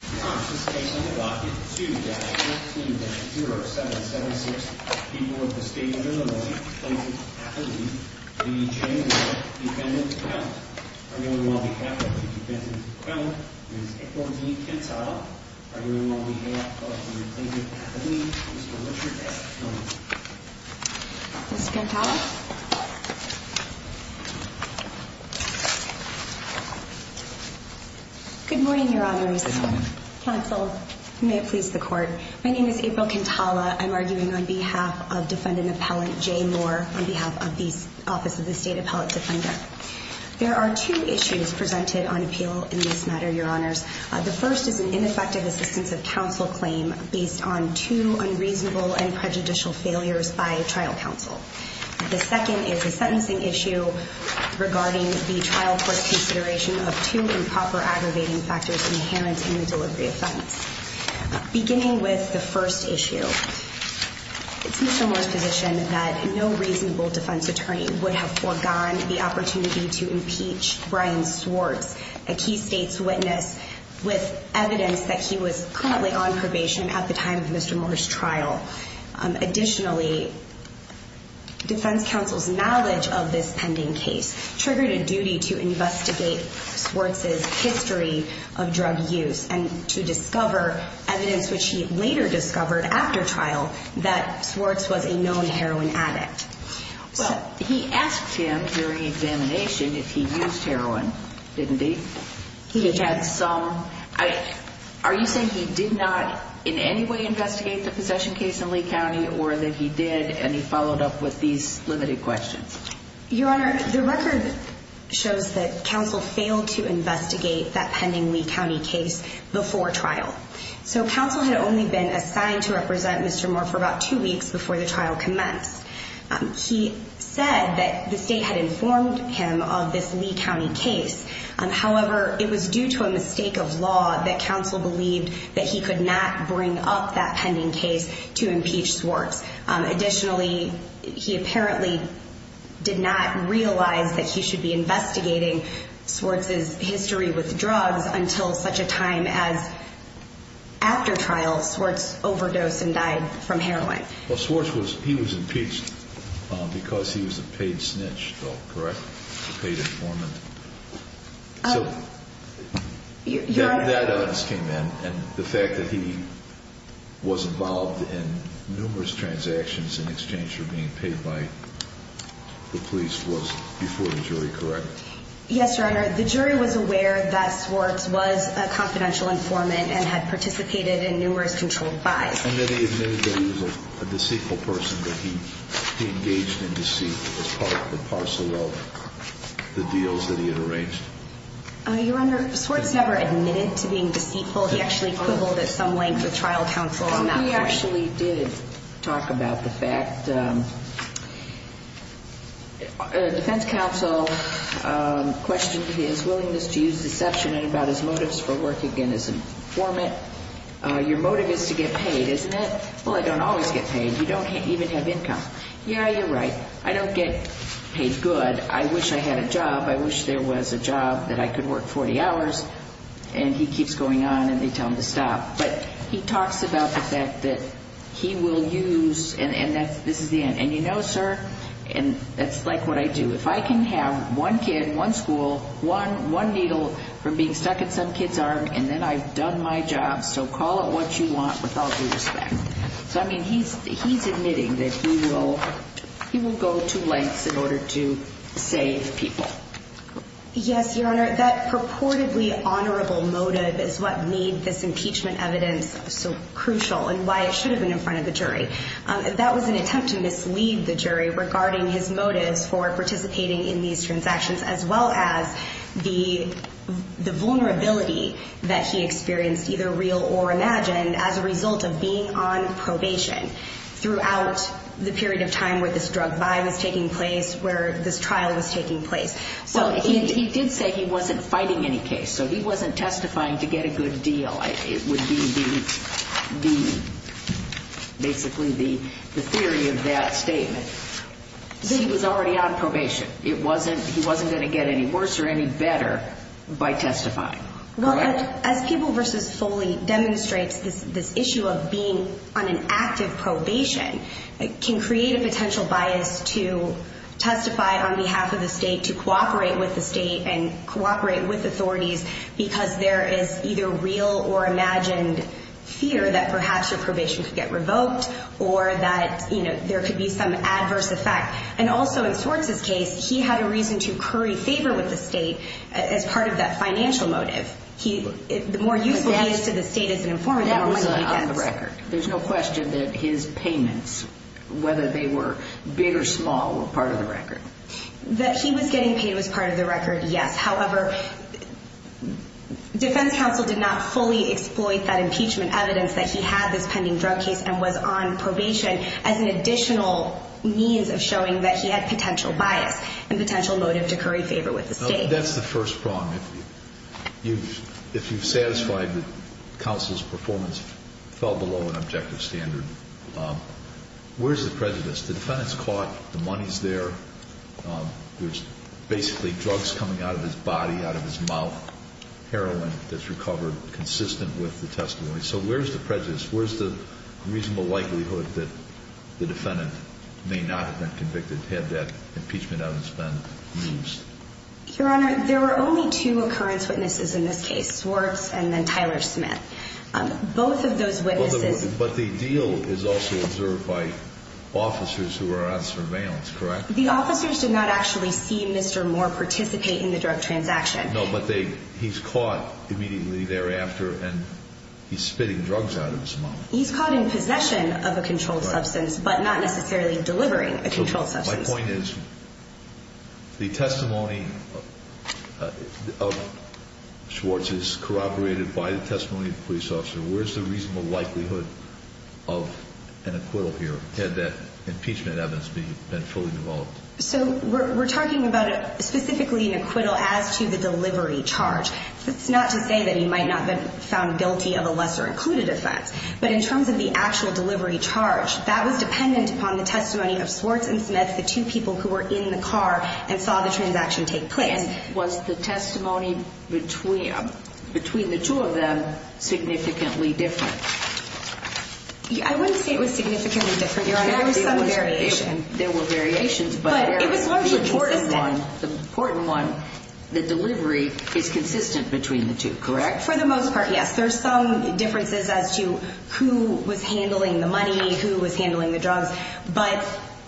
This case under Docket 2-14-0776, people of the state of Illinois, plaintiff's athlete, D.J. Moore, defendant's counsel. Arguing on behalf of the defendant's counsel, Ms. Hickler D. Cantata. Arguing on behalf of the plaintiff's athlete, Mr. Richard S. Jones. Ms. Cantata. Good morning, your honors. Good morning. Counsel, may it please the court. My name is April Cantata. I'm arguing on behalf of defendant appellant, J. Moore, on behalf of the Office of the State Appellate Defender. There are two issues presented on appeal in this matter, your honors. The first is an ineffective assistance of counsel claim based on two unreasonable and prejudicial failures by trial counsel. The second is a sentencing issue regarding the trial court's consideration of two improper aggravating factors inherent in the delivery of sentence. Beginning with the first issue, it's Mr. Moore's position that no reasonable defense attorney would have forgone the opportunity to impeach Brian Swartz, a key state's witness, with evidence that he was currently on probation at the time of Mr. Moore's trial. Additionally, defense counsel's knowledge of this pending case triggered a duty to investigate Swartz's history of drug use and to discover evidence which he later discovered after trial that Swartz was a known heroin addict. Well, he asked him during examination if he used heroin, didn't he? He had some. Are you saying he did not in any way investigate the possession case in Lee County or that he did and he followed up with these limited questions? Your honor, the record shows that counsel failed to investigate that pending Lee County case before trial. So counsel had only been assigned to represent Mr. Moore for about two weeks before the trial commenced. He said that the state had informed him of this Lee County case. However, it was due to a mistake of law that counsel believed that he could not bring up that pending case to impeach Swartz. Additionally, he apparently did not realize that he should be investigating Swartz's history with drugs until such a time as after trial, Swartz overdosed and died from heroin. Well, Swartz was, he was impeached because he was a paid snitch though, correct? He was a paid informant. So, that came in and the fact that he was involved in numerous transactions in exchange for being paid by the police was before the jury, correct? Yes, your honor. The jury was aware that Swartz was a confidential informant and had participated in numerous controlled buys. And that he admitted that he was a deceitful person, that he engaged in deceit as part of the parcel of the deals that he had arranged. Your honor, Swartz never admitted to being deceitful. He actually quibbled at some length with trial counsel on that point. He actually did talk about the fact, defense counsel questioned his willingness to use deception and about his motives for working as an informant. Your motive is to get paid, isn't it? Well, I don't always get paid. You don't even have income. Yeah, you're right. I don't get paid good. I wish I had a job. I wish there was a job that I could work 40 hours and he keeps going on and they tell him to stop. But he talks about the fact that he will use, and this is the end. And you know, sir, and that's like what I do. If I can have one kid, one school, one needle from being stuck in some kid's arm and then I've done my job. So call it what you want with all due respect. So, I mean, he's admitting that he will go to lengths in order to save people. Yes, your honor. That purportedly honorable motive is what made this impeachment evidence so crucial and why it should have been in front of the jury. That was an attempt to mislead the jury regarding his motives for participating in these transactions, as well as the vulnerability that he experienced, either real or imagined, as a result of being on probation throughout the period of time where this drug buy was taking place, where this trial was taking place. He did say he wasn't fighting any case, so he wasn't testifying to get a good deal. It would be basically the theory of that statement. He was already on probation. He wasn't going to get any worse or any better by testifying. Well, as People v. Foley demonstrates, this issue of being on an active probation can create a potential bias to testify on behalf of the state, to cooperate with the state and cooperate with authorities because there is either real or imagined fear that perhaps your probation could get revoked or that there could be some adverse effect. And also in Swartz's case, he had a reason to curry favor with the state as part of that financial motive. The more useful he is to the state as an informant, the more money he gets. There's no question that his payments, whether they were big or small, were part of the record. That he was getting paid was part of the record, yes. However, defense counsel did not fully exploit that impeachment evidence that he had this pending drug case and was on probation as an additional means of showing that he had potential bias and potential motive to curry favor with the state. That's the first prong. If you've satisfied that counsel's performance fell below an objective standard, where's the prejudice? The defendant's caught. The money's there. There's basically drugs coming out of his body, out of his mouth, heroin that's recovered consistent with the testimony. So where's the prejudice? Where's the reasonable likelihood that the defendant may not have been convicted had that impeachment evidence been used? Your Honor, there were only two occurrence witnesses in this case, Swartz and then Tyler Smith. Both of those witnesses... But the deal is also observed by officers who are on surveillance, correct? The officers did not actually see Mr. Moore participate in the drug transaction. No, but he's caught immediately thereafter and he's spitting drugs out of his mouth. He's caught in possession of a controlled substance but not necessarily delivering a controlled substance. My point is, the testimony of Swartz is corroborated by the testimony of the police officer. Where's the reasonable likelihood of an acquittal here had that impeachment evidence been fully involved? So we're talking about specifically an acquittal as to the delivery charge. That's not to say that he might not have been found guilty of a lesser included offense. But in terms of the actual delivery charge, that was dependent upon the testimony of Swartz and Smith, the two people who were in the car and saw the transaction take place. And was the testimony between the two of them significantly different? I wouldn't say it was significantly different, Your Honor. There was some variation. There were variations, but the important one, the delivery is consistent between the two, correct? For the most part, yes. There's some differences as to who was handling the money, who was handling the drugs. But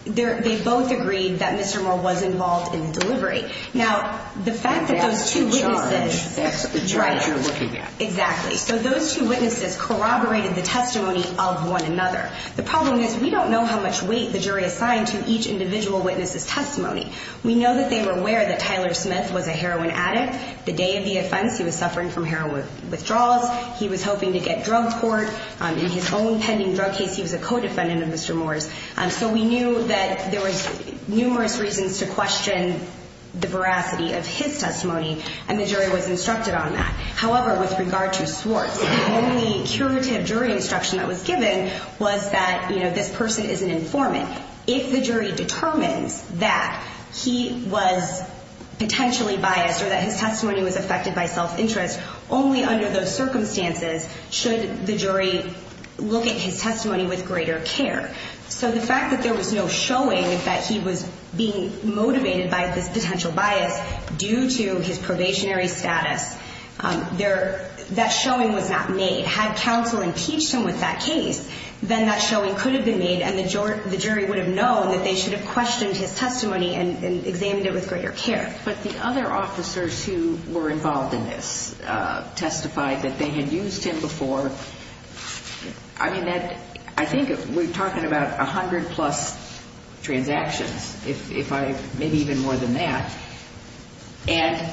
they both agreed that Mr. Moore was involved in the delivery. And that's the charge you're looking at. Exactly. So those two witnesses corroborated the testimony of one another. The problem is, we don't know how much weight the jury assigned to each individual witness' testimony. We know that they were aware that Tyler Smith was a heroin addict. The day of the offense, he was suffering from heroin withdrawals. He was hoping to get drug court. In his own pending drug case, he was a co-defendant of Mr. Moore's. So we knew that there was numerous reasons to question the veracity of his testimony. And the jury was instructed on that. However, with regard to Swartz, the only curative jury instruction that was given was that this person is an informant. If the jury determines that he was potentially biased or that his testimony was affected by self-interest, only under those circumstances should the jury look at his testimony with greater care. So the fact that there was no showing that he was being motivated by this potential bias due to his probationary status, that showing was not made. Had counsel impeached him with that case, then that showing could have been made and the jury would have known that they should have questioned his testimony and examined it with greater care. But the other officers who were involved in this testified that they had used him before. I think we're talking about 100 plus transactions, maybe even more than that. And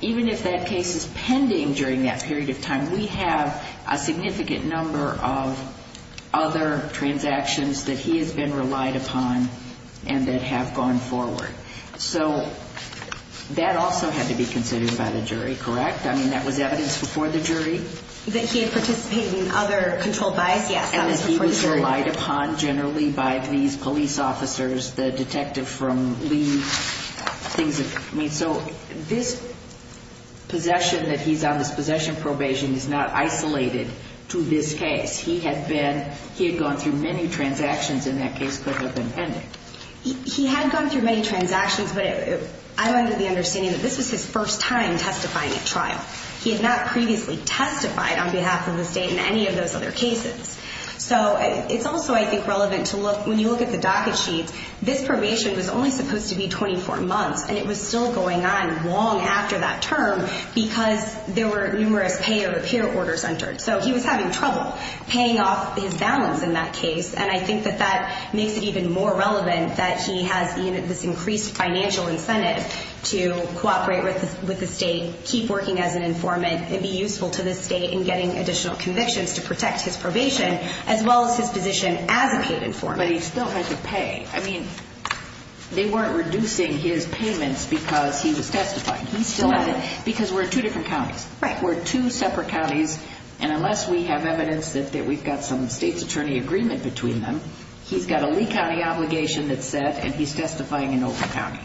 even if that case is pending during that period of time, we have a significant number of other transactions that he has been relied upon and that have gone forward. So that also had to be considered by the jury, correct? That he had participated in other controlled bias, yes. And that he was relied upon generally by these police officers, the detective from Lee. So this possession that he's on, this possession probation, is not isolated to this case. He had gone through many transactions in that case that have been pending. He had gone through many transactions, but I'm under the understanding that this was his first time testifying at trial. He had not previously testified on behalf of the state in any of those other cases. So it's also, I think, relevant to look, when you look at the docket sheets, this probation was only supposed to be 24 months and it was still going on long after that term because there were numerous pay or repair orders entered. So he was having trouble paying off his balance in that case. And I think that that makes it even more relevant that he has this increased financial incentive to cooperate with the state, keep working as an informant, and be useful to the state in getting additional convictions to protect his probation, as well as his position as a paid informant. But he still had to pay. I mean, they weren't reducing his payments because he was testifying. He still had to. Because we're two different counties. Right. We're two separate counties, and unless we have evidence that we've got some state's attorney agreement between them, he's got a Lee County obligation that's set, and he's testifying in Overton County.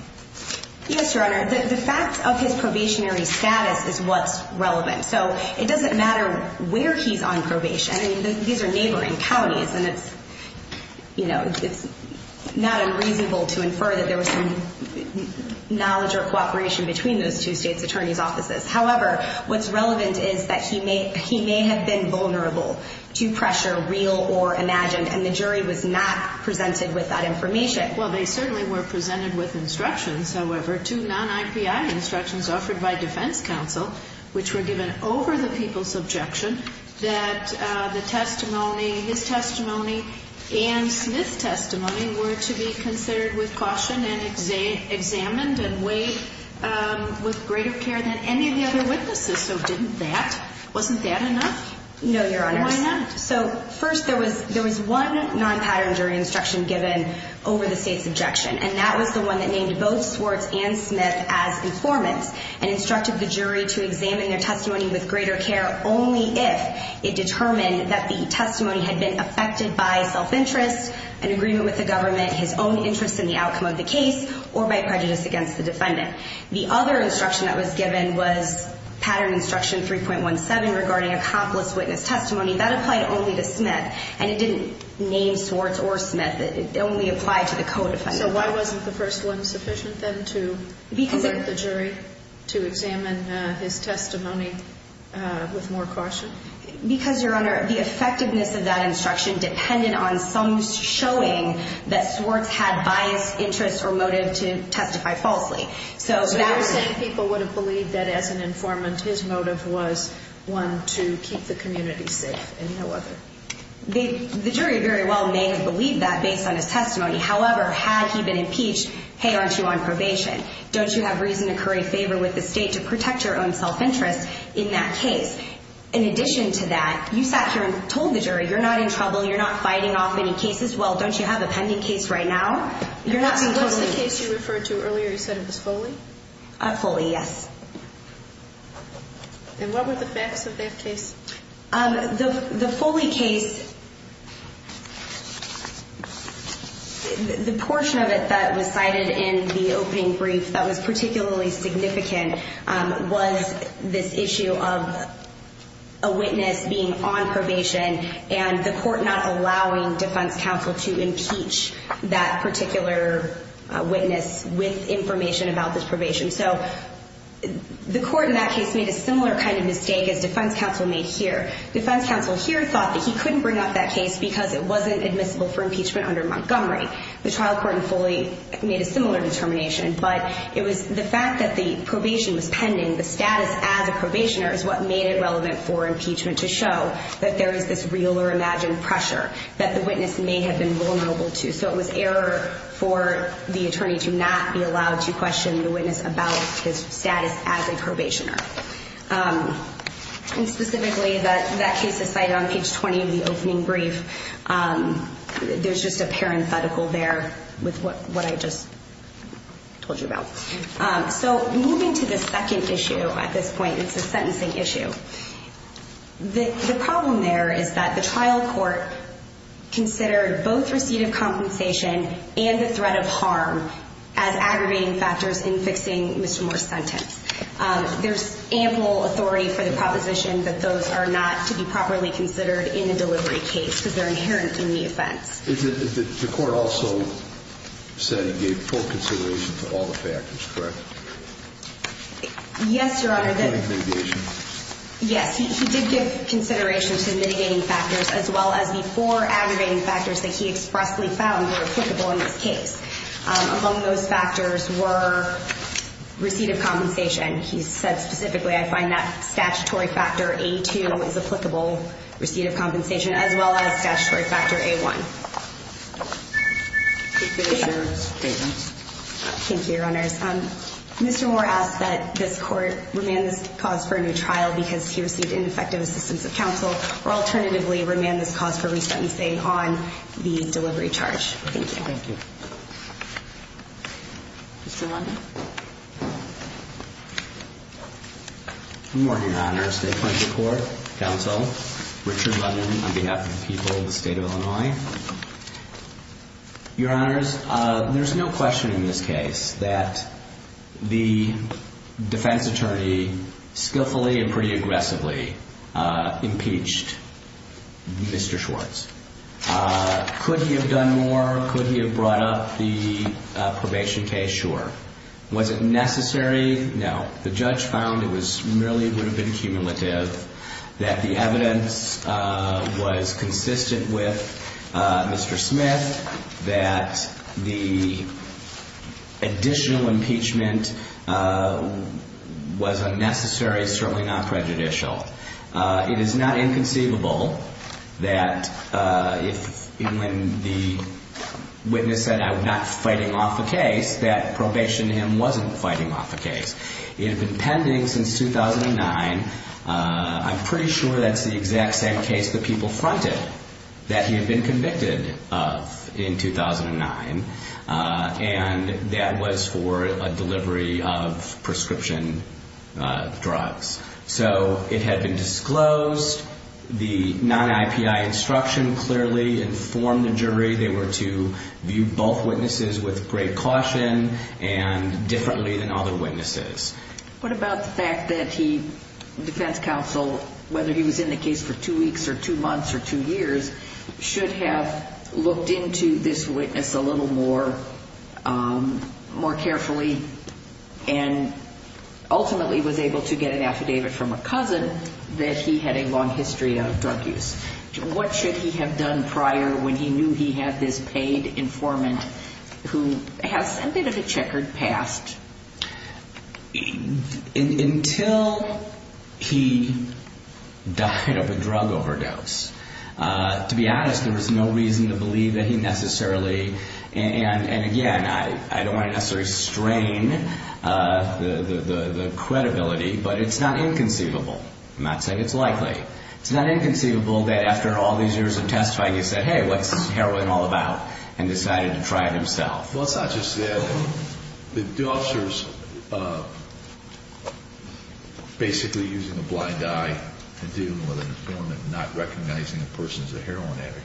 Yes, Your Honor. The fact of his probationary status is what's relevant. So it doesn't matter where he's on probation. These are neighboring counties, and it's not unreasonable to infer that there was some knowledge or cooperation between those two states' attorneys' offices. However, what's relevant is that he may have been vulnerable to pressure, real or imagined, and the jury was not presented with that information. Well, they certainly were presented with instructions. However, two non-IPI instructions offered by defense counsel, which were given over the people's objection, that the testimony, his testimony, and Smith's testimony were to be considered with caution and examined and weighed with greater care than any of the other witnesses. So didn't that? Wasn't that enough? No, Your Honor. Why not? So first, there was one non-pattern jury instruction given over the state's objection, and that was the one that named both Swartz and Smith as informants and instructed the jury to examine their testimony with greater care only if it determined that the testimony had been affected by self-interest, an agreement with the government, his own interest in the outcome of the case, or by prejudice against the defendant. The other instruction that was given was pattern instruction 3.17 regarding accomplice witness testimony. That applied only to Smith, and it didn't name Swartz or Smith. It only applied to the co-defendant. So why wasn't the first one sufficient then to alert the jury to examine his testimony with more caution? Because, Your Honor, the effectiveness of that instruction depended on some showing that Swartz had bias, interest, or motive to testify falsely. So you're saying people would have believed that, as an informant, his motive was one to keep the community safe and no other? The jury very well may have believed that based on his testimony. However, had he been impeached, hey, aren't you on probation? Don't you have reason to curry favor with the state to protect your own self-interest in that case? In addition to that, you sat here and told the jury you're not in trouble, you're not fighting off any cases. Well, don't you have a pending case right now? What's the case you referred to earlier? You said it was Foley? Foley, yes. And what were the facts of that case? The Foley case, the portion of it that was cited in the opening brief that was particularly significant was this issue of a witness being on probation and the court not allowing defense counsel to impeach that particular witness with information about this probation. So the court in that case made a similar kind of mistake as defense counsel made here. Defense counsel here thought that he couldn't bring up that case because it wasn't admissible for impeachment under Montgomery. The trial court in Foley made a similar determination, but it was the fact that the probation was pending, the status as a probationer is what made it relevant for impeachment to show that there is this real or imagined pressure that the witness may have been vulnerable to. So it was error for the attorney to not be allowed to question the witness about his status as a probationer. And specifically, that case is cited on page 20 of the opening brief. There's just a parenthetical there with what I just told you about. So moving to the second issue at this point, it's a sentencing issue. The problem there is that the trial court considered both receipt of compensation and the threat of harm as aggravating factors in fixing Mr. Moore's sentence. There's ample authority for the proposition that those are not to be properly considered in a delivery case because they're inherent in the offense. The court also said it gave full consideration to all the factors, correct? Yes, Your Honor. Yes, he did give consideration to mitigating factors, as well as the four aggravating factors that he expressly found were applicable in this case. Among those factors were receipt of compensation. He said specifically, I find that statutory factor A2 is applicable, receipt of compensation, as well as statutory factor A1. Could you finish your statement? Thank you, Your Honors. Mr. Moore asked that this court remand this cause for a new trial because he received ineffective assistance of counsel, or alternatively, remand this cause for restatement on the delivery charge. Thank you. Good morning, Your Honors. Counsel Richard London on behalf of the people of the state of Illinois. Your Honors, there's no question in this case that the defense attorney skillfully and pretty aggressively impeached Mr. Schwartz. Could he have done more? Could he have brought up the probation case? Sure. Was it necessary? No. The judge found it merely would have been cumulative, that the evidence was consistent with Mr. Smith, that the additional impeachment was unnecessary, certainly not prejudicial. It is not inconceivable that when the witness said, not fighting off a case, that probation to him wasn't fighting off a case. It had been pending since 2009. I'm pretty sure that's the exact same case that people fronted, that he had been convicted of in 2009, and that was for a delivery of prescription drugs. So it had been disclosed. The non-IPI instruction clearly informed the jury they were to view both witnesses with great caution and differently than other witnesses. What about the fact that the defense counsel, whether he was in the case for two weeks or two months or two years, should have looked into this witness a little more carefully and ultimately was able to get an affidavit from a cousin that he had a long history of drug use? What should he have done prior when he knew he had this paid informant who has a bit of a checkered past? Until he died of a drug overdose. To be honest, there was no reason to believe that he necessarily, and again, I don't want to necessarily strain the credibility, but it's not inconceivable. I'm not saying it's likely. It's not inconceivable that after all these years of testifying, he said, hey, what's heroin all about, and decided to try it himself. Well, it's not just that. The officer's basically using a blind eye and dealing with an informant not recognizing the person as a heroin addict.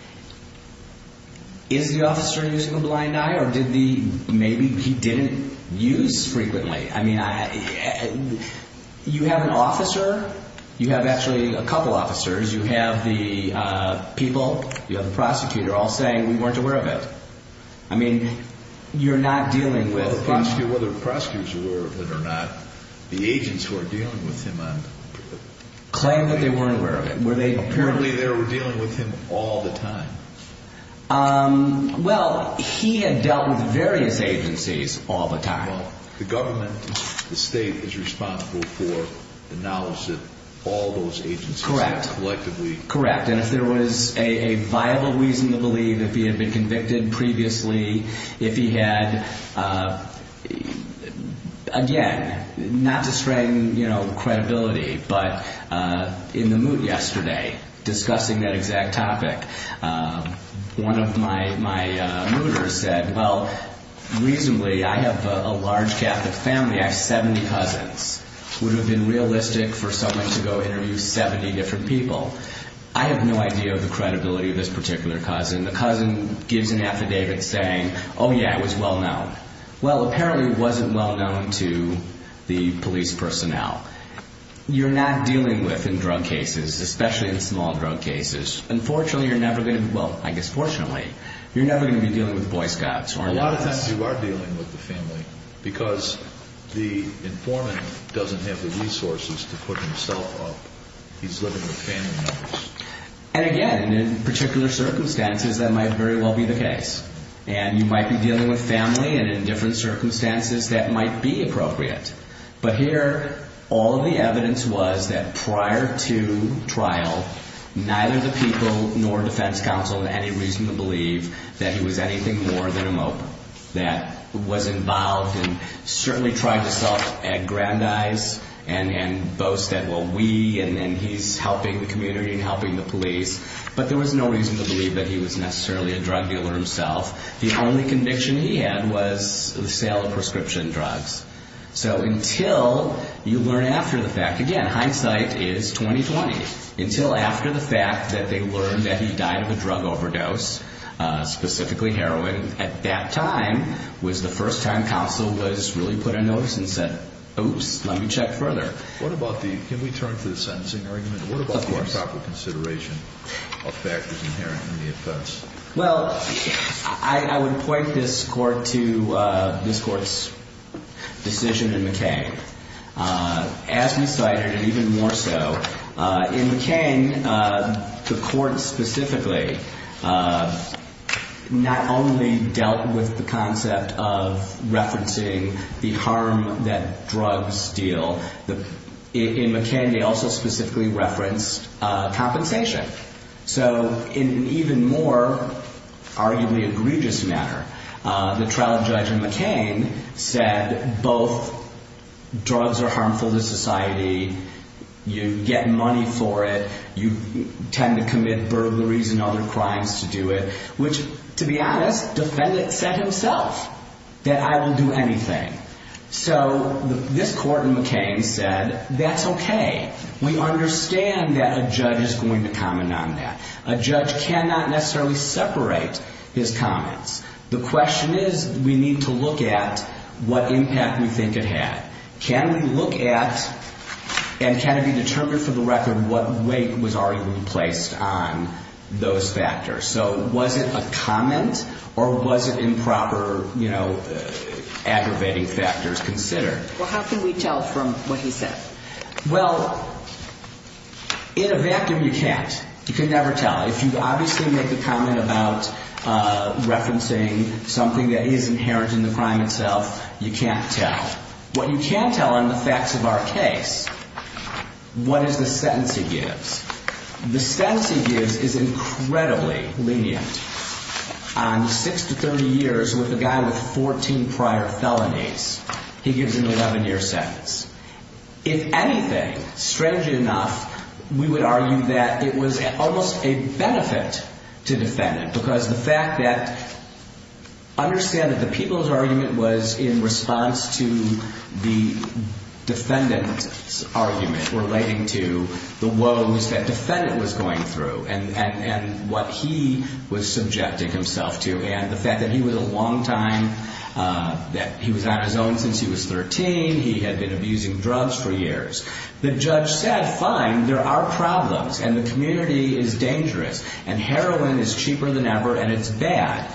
Is the officer using a blind eye, or did the, maybe he didn't use frequently? You have an officer. You have actually a couple officers. You have the people. You have the prosecutor all saying we weren't aware of it. I mean, you're not dealing with. The prosecutor, whether the prosecutors were or not, the agents who were dealing with him on. Claim that they weren't aware of it. Apparently they were dealing with him all the time. Well, he had dealt with various agencies all the time. Well, the government, the state is responsible for the knowledge that all those agencies have collectively. Correct. And if there was a viable reason to believe that he had been convicted previously, if he had, again, not to strain credibility, but in the moot yesterday discussing that exact topic, one of my mooters said, well, reasonably, I have a large Catholic family. I have 70 cousins. Would it have been realistic for someone to go interview 70 different people? I have no idea of the credibility of this particular cousin. The cousin gives an affidavit saying, oh, yeah, it was well known. Well, apparently it wasn't well known to the police personnel. You're not dealing with in drug cases, especially in small drug cases. Unfortunately you're never going to be, well, I guess fortunately, you're never going to be dealing with Boy Scouts. A lot of times you are dealing with the family because the informant doesn't have the resources to put himself up. He's living with family members. And, again, in particular circumstances that might very well be the case. And you might be dealing with family, and in different circumstances that might be appropriate. But here all of the evidence was that prior to trial neither the people nor defense counsel had any reason to believe that he was anything more than a mope that was involved and certainly tried to self-aggrandize and boast that, well, we, and he's helping the community and helping the police. But there was no reason to believe that he was necessarily a drug dealer himself. The only conviction he had was the sale of prescription drugs. So until you learn after the fact, again, hindsight is 20-20. Until after the fact that they learned that he died of a drug overdose, specifically heroin, at that time was the first time counsel was really put on notice and said, oops, let me check further. What about the, can we turn to the sentencing argument? Of course. What about the improper consideration of factors inherent in the offense? Well, I would point this court to this court's decision in McCain. As we cited and even more so, in McCain the court specifically not only dealt with the concept of referencing the harm that drugs deal. In McCain they also specifically referenced compensation. So in an even more arguably egregious manner, the trial judge in McCain said both drugs are harmful to society. You get money for it. You tend to commit burglaries and other crimes to do it, which, to be honest, the defendant said himself that I will do anything. So this court in McCain said that's okay. We understand that a judge is going to comment on that. A judge cannot necessarily separate his comments. The question is we need to look at what impact we think it had. Can we look at and can it be determined for the record what weight was already placed on those factors? So was it a comment or was it improper aggravating factors considered? Well, how can we tell from what he said? Well, in a vacuum you can't. You can never tell. If you obviously make a comment about referencing something that is inheriting the crime itself, you can't tell. What you can tell on the facts of our case, what is the sentence he gives? The sentence he gives is incredibly lenient. On 6 to 30 years with a guy with 14 prior felonies, he gives an 11-year sentence. If anything, strangely enough, we would argue that it was almost a benefit to defendant because the fact that understand that the people's argument was in response to the defendant's argument relating to the woes that defendant was going through and what he was subjecting himself to and the fact that he was a long time that he was on his own since he was 13, he had been abusing drugs for years. The judge said, fine, there are problems and the community is dangerous and heroin is cheaper than ever and it's bad,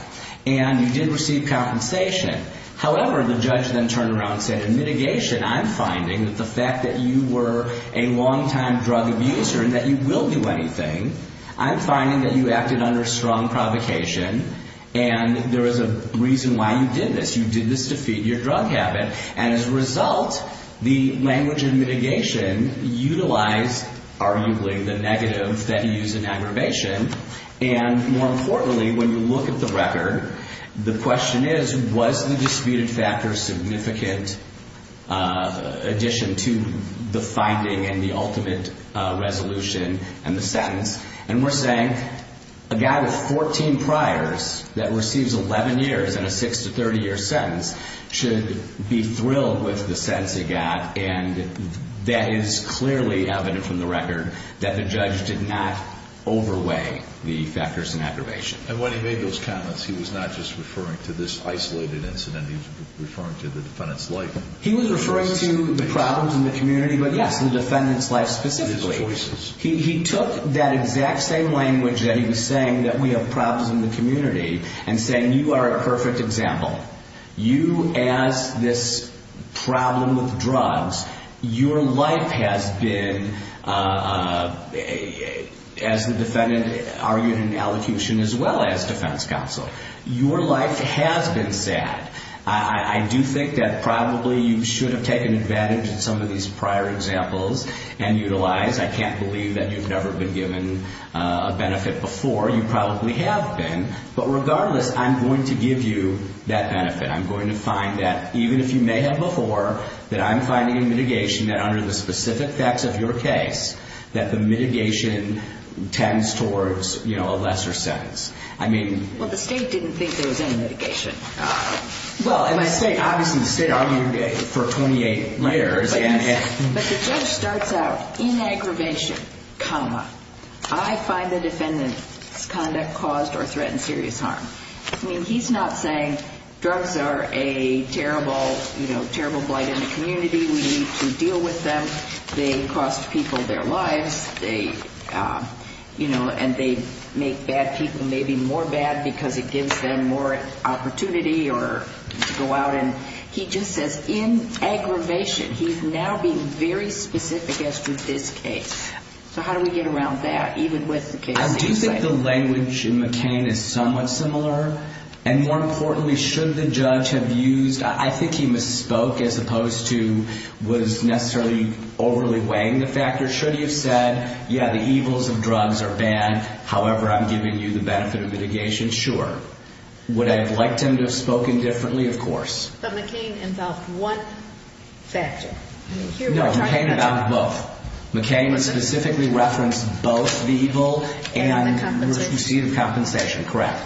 and you did receive compensation. However, the judge then turned around and said, in mitigation, I'm finding that the fact that you were a long time drug abuser and that you will do anything, I'm finding that you acted under strong provocation and there is a reason why you did this. You did this to feed your drug habit and as a result, the language in mitigation utilized, arguably, the negative that he used in aggravation and more importantly, when you look at the record, the question is, was the disputed factor significant addition to the finding and the ultimate resolution and the sentence? And we're saying, a guy with 14 priors that receives 11 years and a 6 to 30 year sentence should be thrilled with the sentence he got and that is clearly evident from the record that the judge did not overweigh the factors in aggravation. And when he made those comments, he was not just referring to this isolated incident, he was referring to the defendant's life. He was referring to the problems in the community, but yes, the defendant's life specifically. His choices. He took that exact same language that he was saying, that we have problems in the community and saying, you are a perfect example. You, as this problem with drugs, your life has been, as the defendant argued in allocution, as well as defense counsel, your life has been sad. I do think that probably you should have taken advantage of some of these prior examples and utilized. I can't believe that you've never been given a benefit before. You probably have been, but regardless, I'm going to give you that benefit. I'm going to find that, even if you may have before, that I'm finding in mitigation that under the specific facts of your case, that the mitigation tends towards a lesser sentence. Well, the state didn't think there was any mitigation. Well, obviously the state argued for 28 years. But the judge starts out, in aggravation, comma, I find the defendant's conduct caused or threatened serious harm. I mean, he's not saying drugs are a terrible blight in the community. We need to deal with them. They cost people their lives, and they make bad people maybe more bad because it gives them more opportunity to go out. He just says, in aggravation, he's now being very specific as to this case. So how do we get around that, even with the case? I do think the language in McCain is somewhat similar. And more importantly, should the judge have used, I think he misspoke as opposed to was necessarily overly weighing the factors. Should he have said, yeah, the evils of drugs are bad, however I'm giving you the benefit of mitigation, sure. Would I have liked him to have spoken differently? Of course. But McCain involved one factor. No, McCain involved both. McCain specifically referenced both the evil and the receipt of compensation. Correct.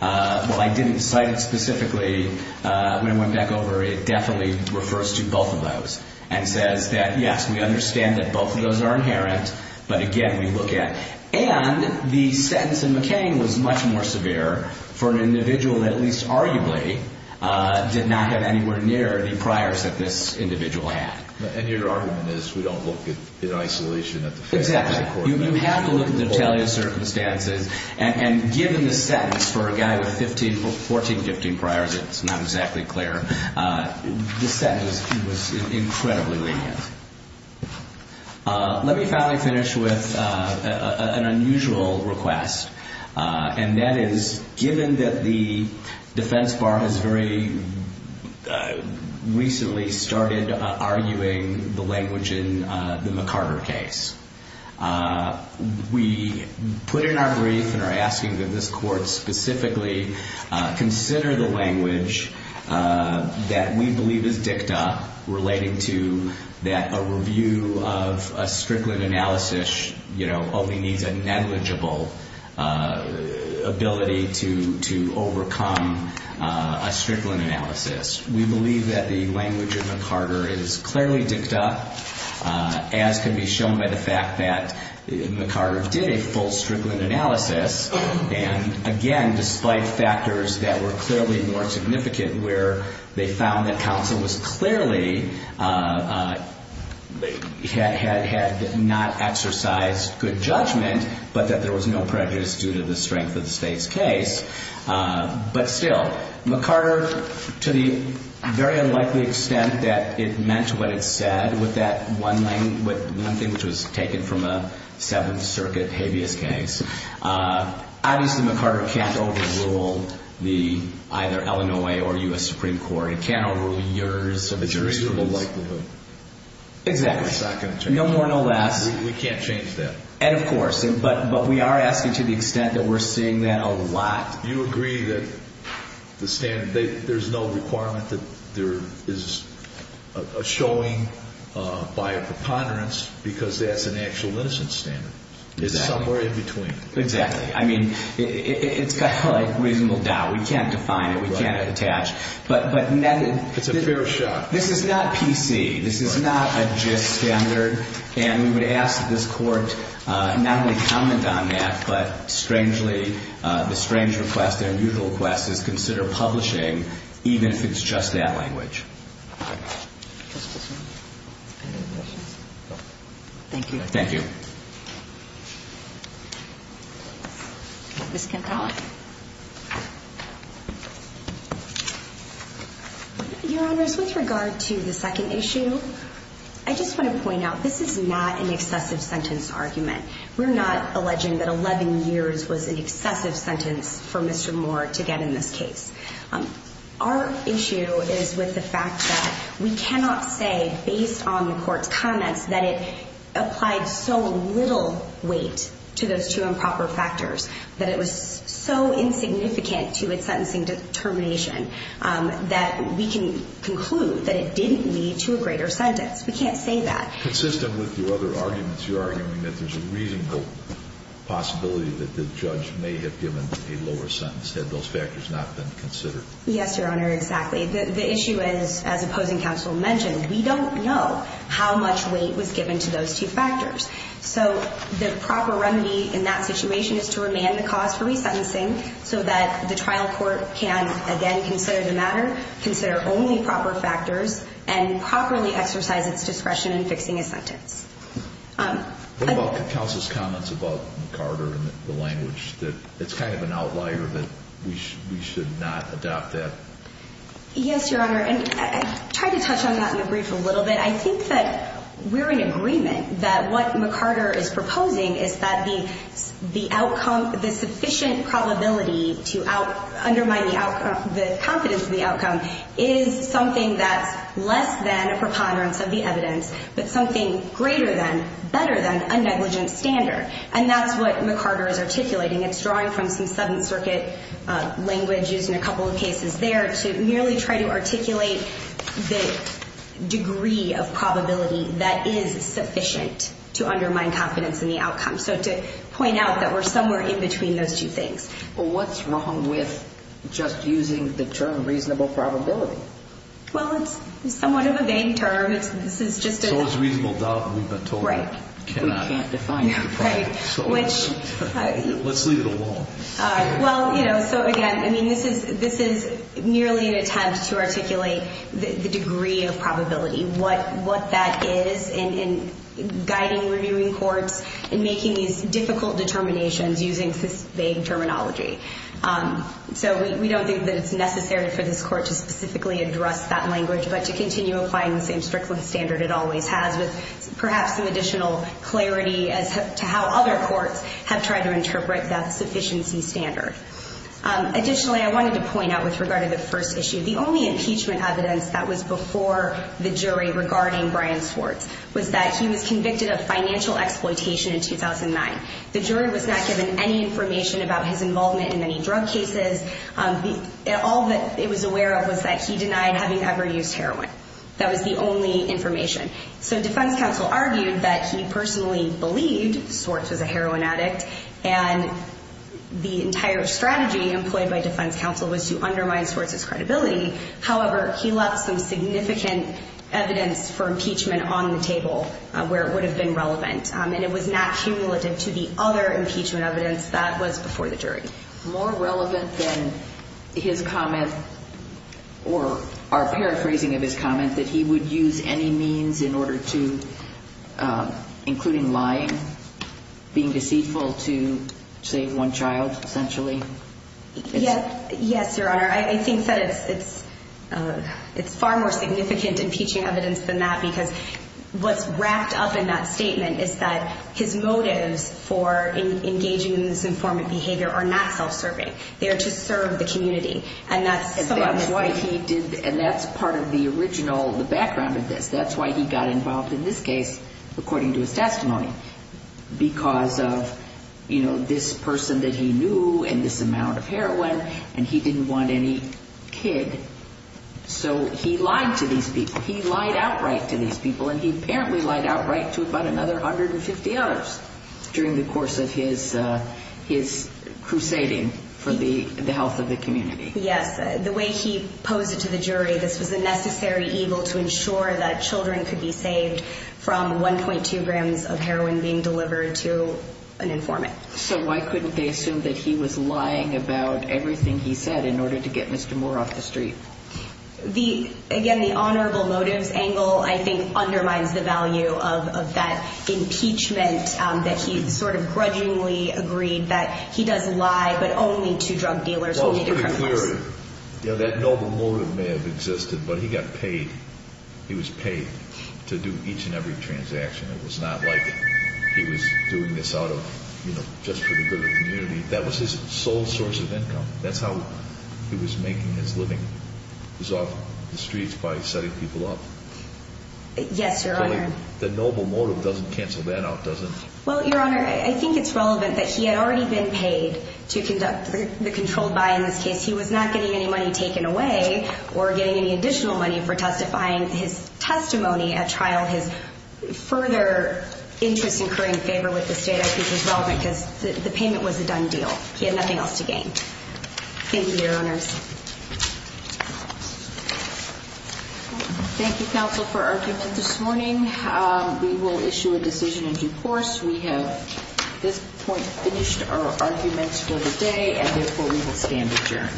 Well, I didn't cite it specifically. When I went back over, it definitely refers to both of those and says that, yes, we understand that both of those are inherent, but again, we look at. And the sentence in McCain was much more severe for an individual that at least arguably did not have anywhere near the priors that this individual had. And your argument is we don't look in isolation at the facts. Exactly. You have to look at the retaliant circumstances. And given the sentence for a guy with 14, 15 priors, it's not exactly clear. The sentence was incredibly lenient. Let me finally finish with an unusual request, and that is given that the defense bar has very recently started arguing the language in the McCarter case. We put in our brief and are asking that this court specifically consider the language that we believe is dicta relating to that a review of a Strickland analysis only needs a negligible ability to overcome a Strickland analysis. We believe that the language in McCarter is clearly dicta, as can be shown by the fact that McCarter did a full Strickland analysis, and again, despite factors that were clearly more significant where they found that counsel was clearly had not exercised good judgment, but that there was no prejudice due to the strength of the state's case. But still, McCarter, to the very unlikely extent that it meant what it said, with that one thing which was taken from a Seventh Circuit habeas case, obviously, McCarter can't overrule either Illinois or U.S. Supreme Court. It can't overrule years of jurisprudence. A jurisdictal likelihood. Exactly. No more, no less. We can't change that. And, of course, but we are asking to the extent that we're seeing that a lot. Do you agree that there's no requirement that there is a showing by a preponderance because that's an actual innocence standard? Exactly. It's somewhere in between. Exactly. I mean, it's kind of like reasonable doubt. We can't define it. We can't attach. It's a fair shot. This is not PC. This is not a gist standard. And we would ask that this Court not only comment on that, but strangely, the strange request, the unusual request, is consider publishing even if it's just that language. Thank you. Thank you. Ms. Kincaid. Your Honors, with regard to the second issue, I just want to point out, this is not an excessive sentence argument. We're not alleging that 11 years was an excessive sentence for Mr. Moore to get in this case. Our issue is with the fact that we cannot say, based on the Court's comments, that it applied so little weight to those two improper factors that it was so insignificant to its sentencing determination that we can conclude that it didn't lead to a greater sentence. We can't say that. Consistent with your other arguments, you're arguing that there's a reasonable possibility that the judge may have given a lower sentence had those factors not been considered. Yes, Your Honor, exactly. The issue is, as opposing counsel mentioned, we don't know how much weight was given to those two factors. So the proper remedy in that situation is to remand the cause for resentencing so that the trial court can, again, consider the matter, consider only proper factors, and properly exercise its discretion in fixing a sentence. What about counsel's comments about McCarter and the language? It's kind of an outlier that we should not adopt that. Yes, Your Honor, and I tried to touch on that in the brief a little bit. I think that we're in agreement that what McCarter is proposing is that the outcome, the sufficient probability to undermine the confidence of the outcome is something that's less than a preponderance of the evidence, but something greater than, better than, a negligent standard. And that's what McCarter is articulating. It's drawing from some Seventh Circuit language used in a couple of cases there to merely try to articulate the degree of probability that is sufficient to undermine confidence in the outcome. So to point out that we're somewhere in between those two things. Well, what's wrong with just using the term reasonable probability? Well, it's somewhat of a vague term. So it's reasonable doubt that we've been told that we can't define it. Right. Let's leave it alone. All right. Well, you know, so again, I mean, this is merely an attempt to articulate the degree of probability, what that is, and guiding, reviewing courts, and making these difficult determinations using this vague terminology. So we don't think that it's necessary for this court to specifically address that language, but to continue applying the same Strickland standard it always has with perhaps some additional clarity as to how other courts have tried to interpret that sufficiency standard. Additionally, I wanted to point out with regard to the first issue, the only impeachment evidence that was before the jury regarding Brian Swartz was that he was convicted of financial exploitation in 2009. The jury was not given any information about his involvement in any drug cases. All that it was aware of was that he denied having ever used heroin. That was the only information. So defense counsel argued that he personally believed Swartz was a heroin addict, and the entire strategy employed by defense counsel was to undermine Swartz's credibility. However, he left some significant evidence for impeachment on the table where it would have been relevant, and it was not cumulative to the other impeachment evidence that was before the jury. More relevant than his comment or our paraphrasing of his comment that he would use any means in order to, including lying, being deceitful to, say, one child, essentially? Yes, Your Honor. I think that it's far more significant impeachment evidence than that because what's wrapped up in that statement is that his motives for engaging in disinformant behavior are not self-serving. They are to serve the community. And that's why he did, and that's part of the original, the background of this. That's why he got involved in this case, according to his testimony. Because of, you know, this person that he knew and this amount of heroin, and he didn't want any kid. So he lied to these people. He lied outright to these people, and he apparently lied outright to about another 150 others during the course of his crusading for the health of the community. Yes. The way he posed it to the jury, this was a necessary evil to ensure that children could be saved from 1.2 grams of heroin being delivered to an informant. So why couldn't they assume that he was lying about everything he said in order to get Mr. Moore off the street? Again, the honorable motives angle, I think, undermines the value of that impeachment that he sort of grudgingly agreed that he does lie, but only to drug dealers who need to criminalize. Well, it's pretty clear. That noble motive may have existed, but he got paid. He was paid to do each and every transaction. It was not like he was doing this out of, you know, just for the good of the community. That was his sole source of income. That's how he was making his living, was off the streets by setting people up. Yes, Your Honor. The noble motive doesn't cancel that out, does it? Well, Your Honor, I think it's relevant that he had already been paid to conduct the controlled buy in this case. He was not getting any money taken away or getting any additional money for justifying his testimony at trial, his further interest in incurring favor with the state. I think it's relevant because the payment was a done deal. He had nothing else to gain. Thank you, Your Honors. Thank you, counsel, for argument this morning. We will issue a decision in due course. We have at this point finished our argument for the day, and therefore we will stand adjourned.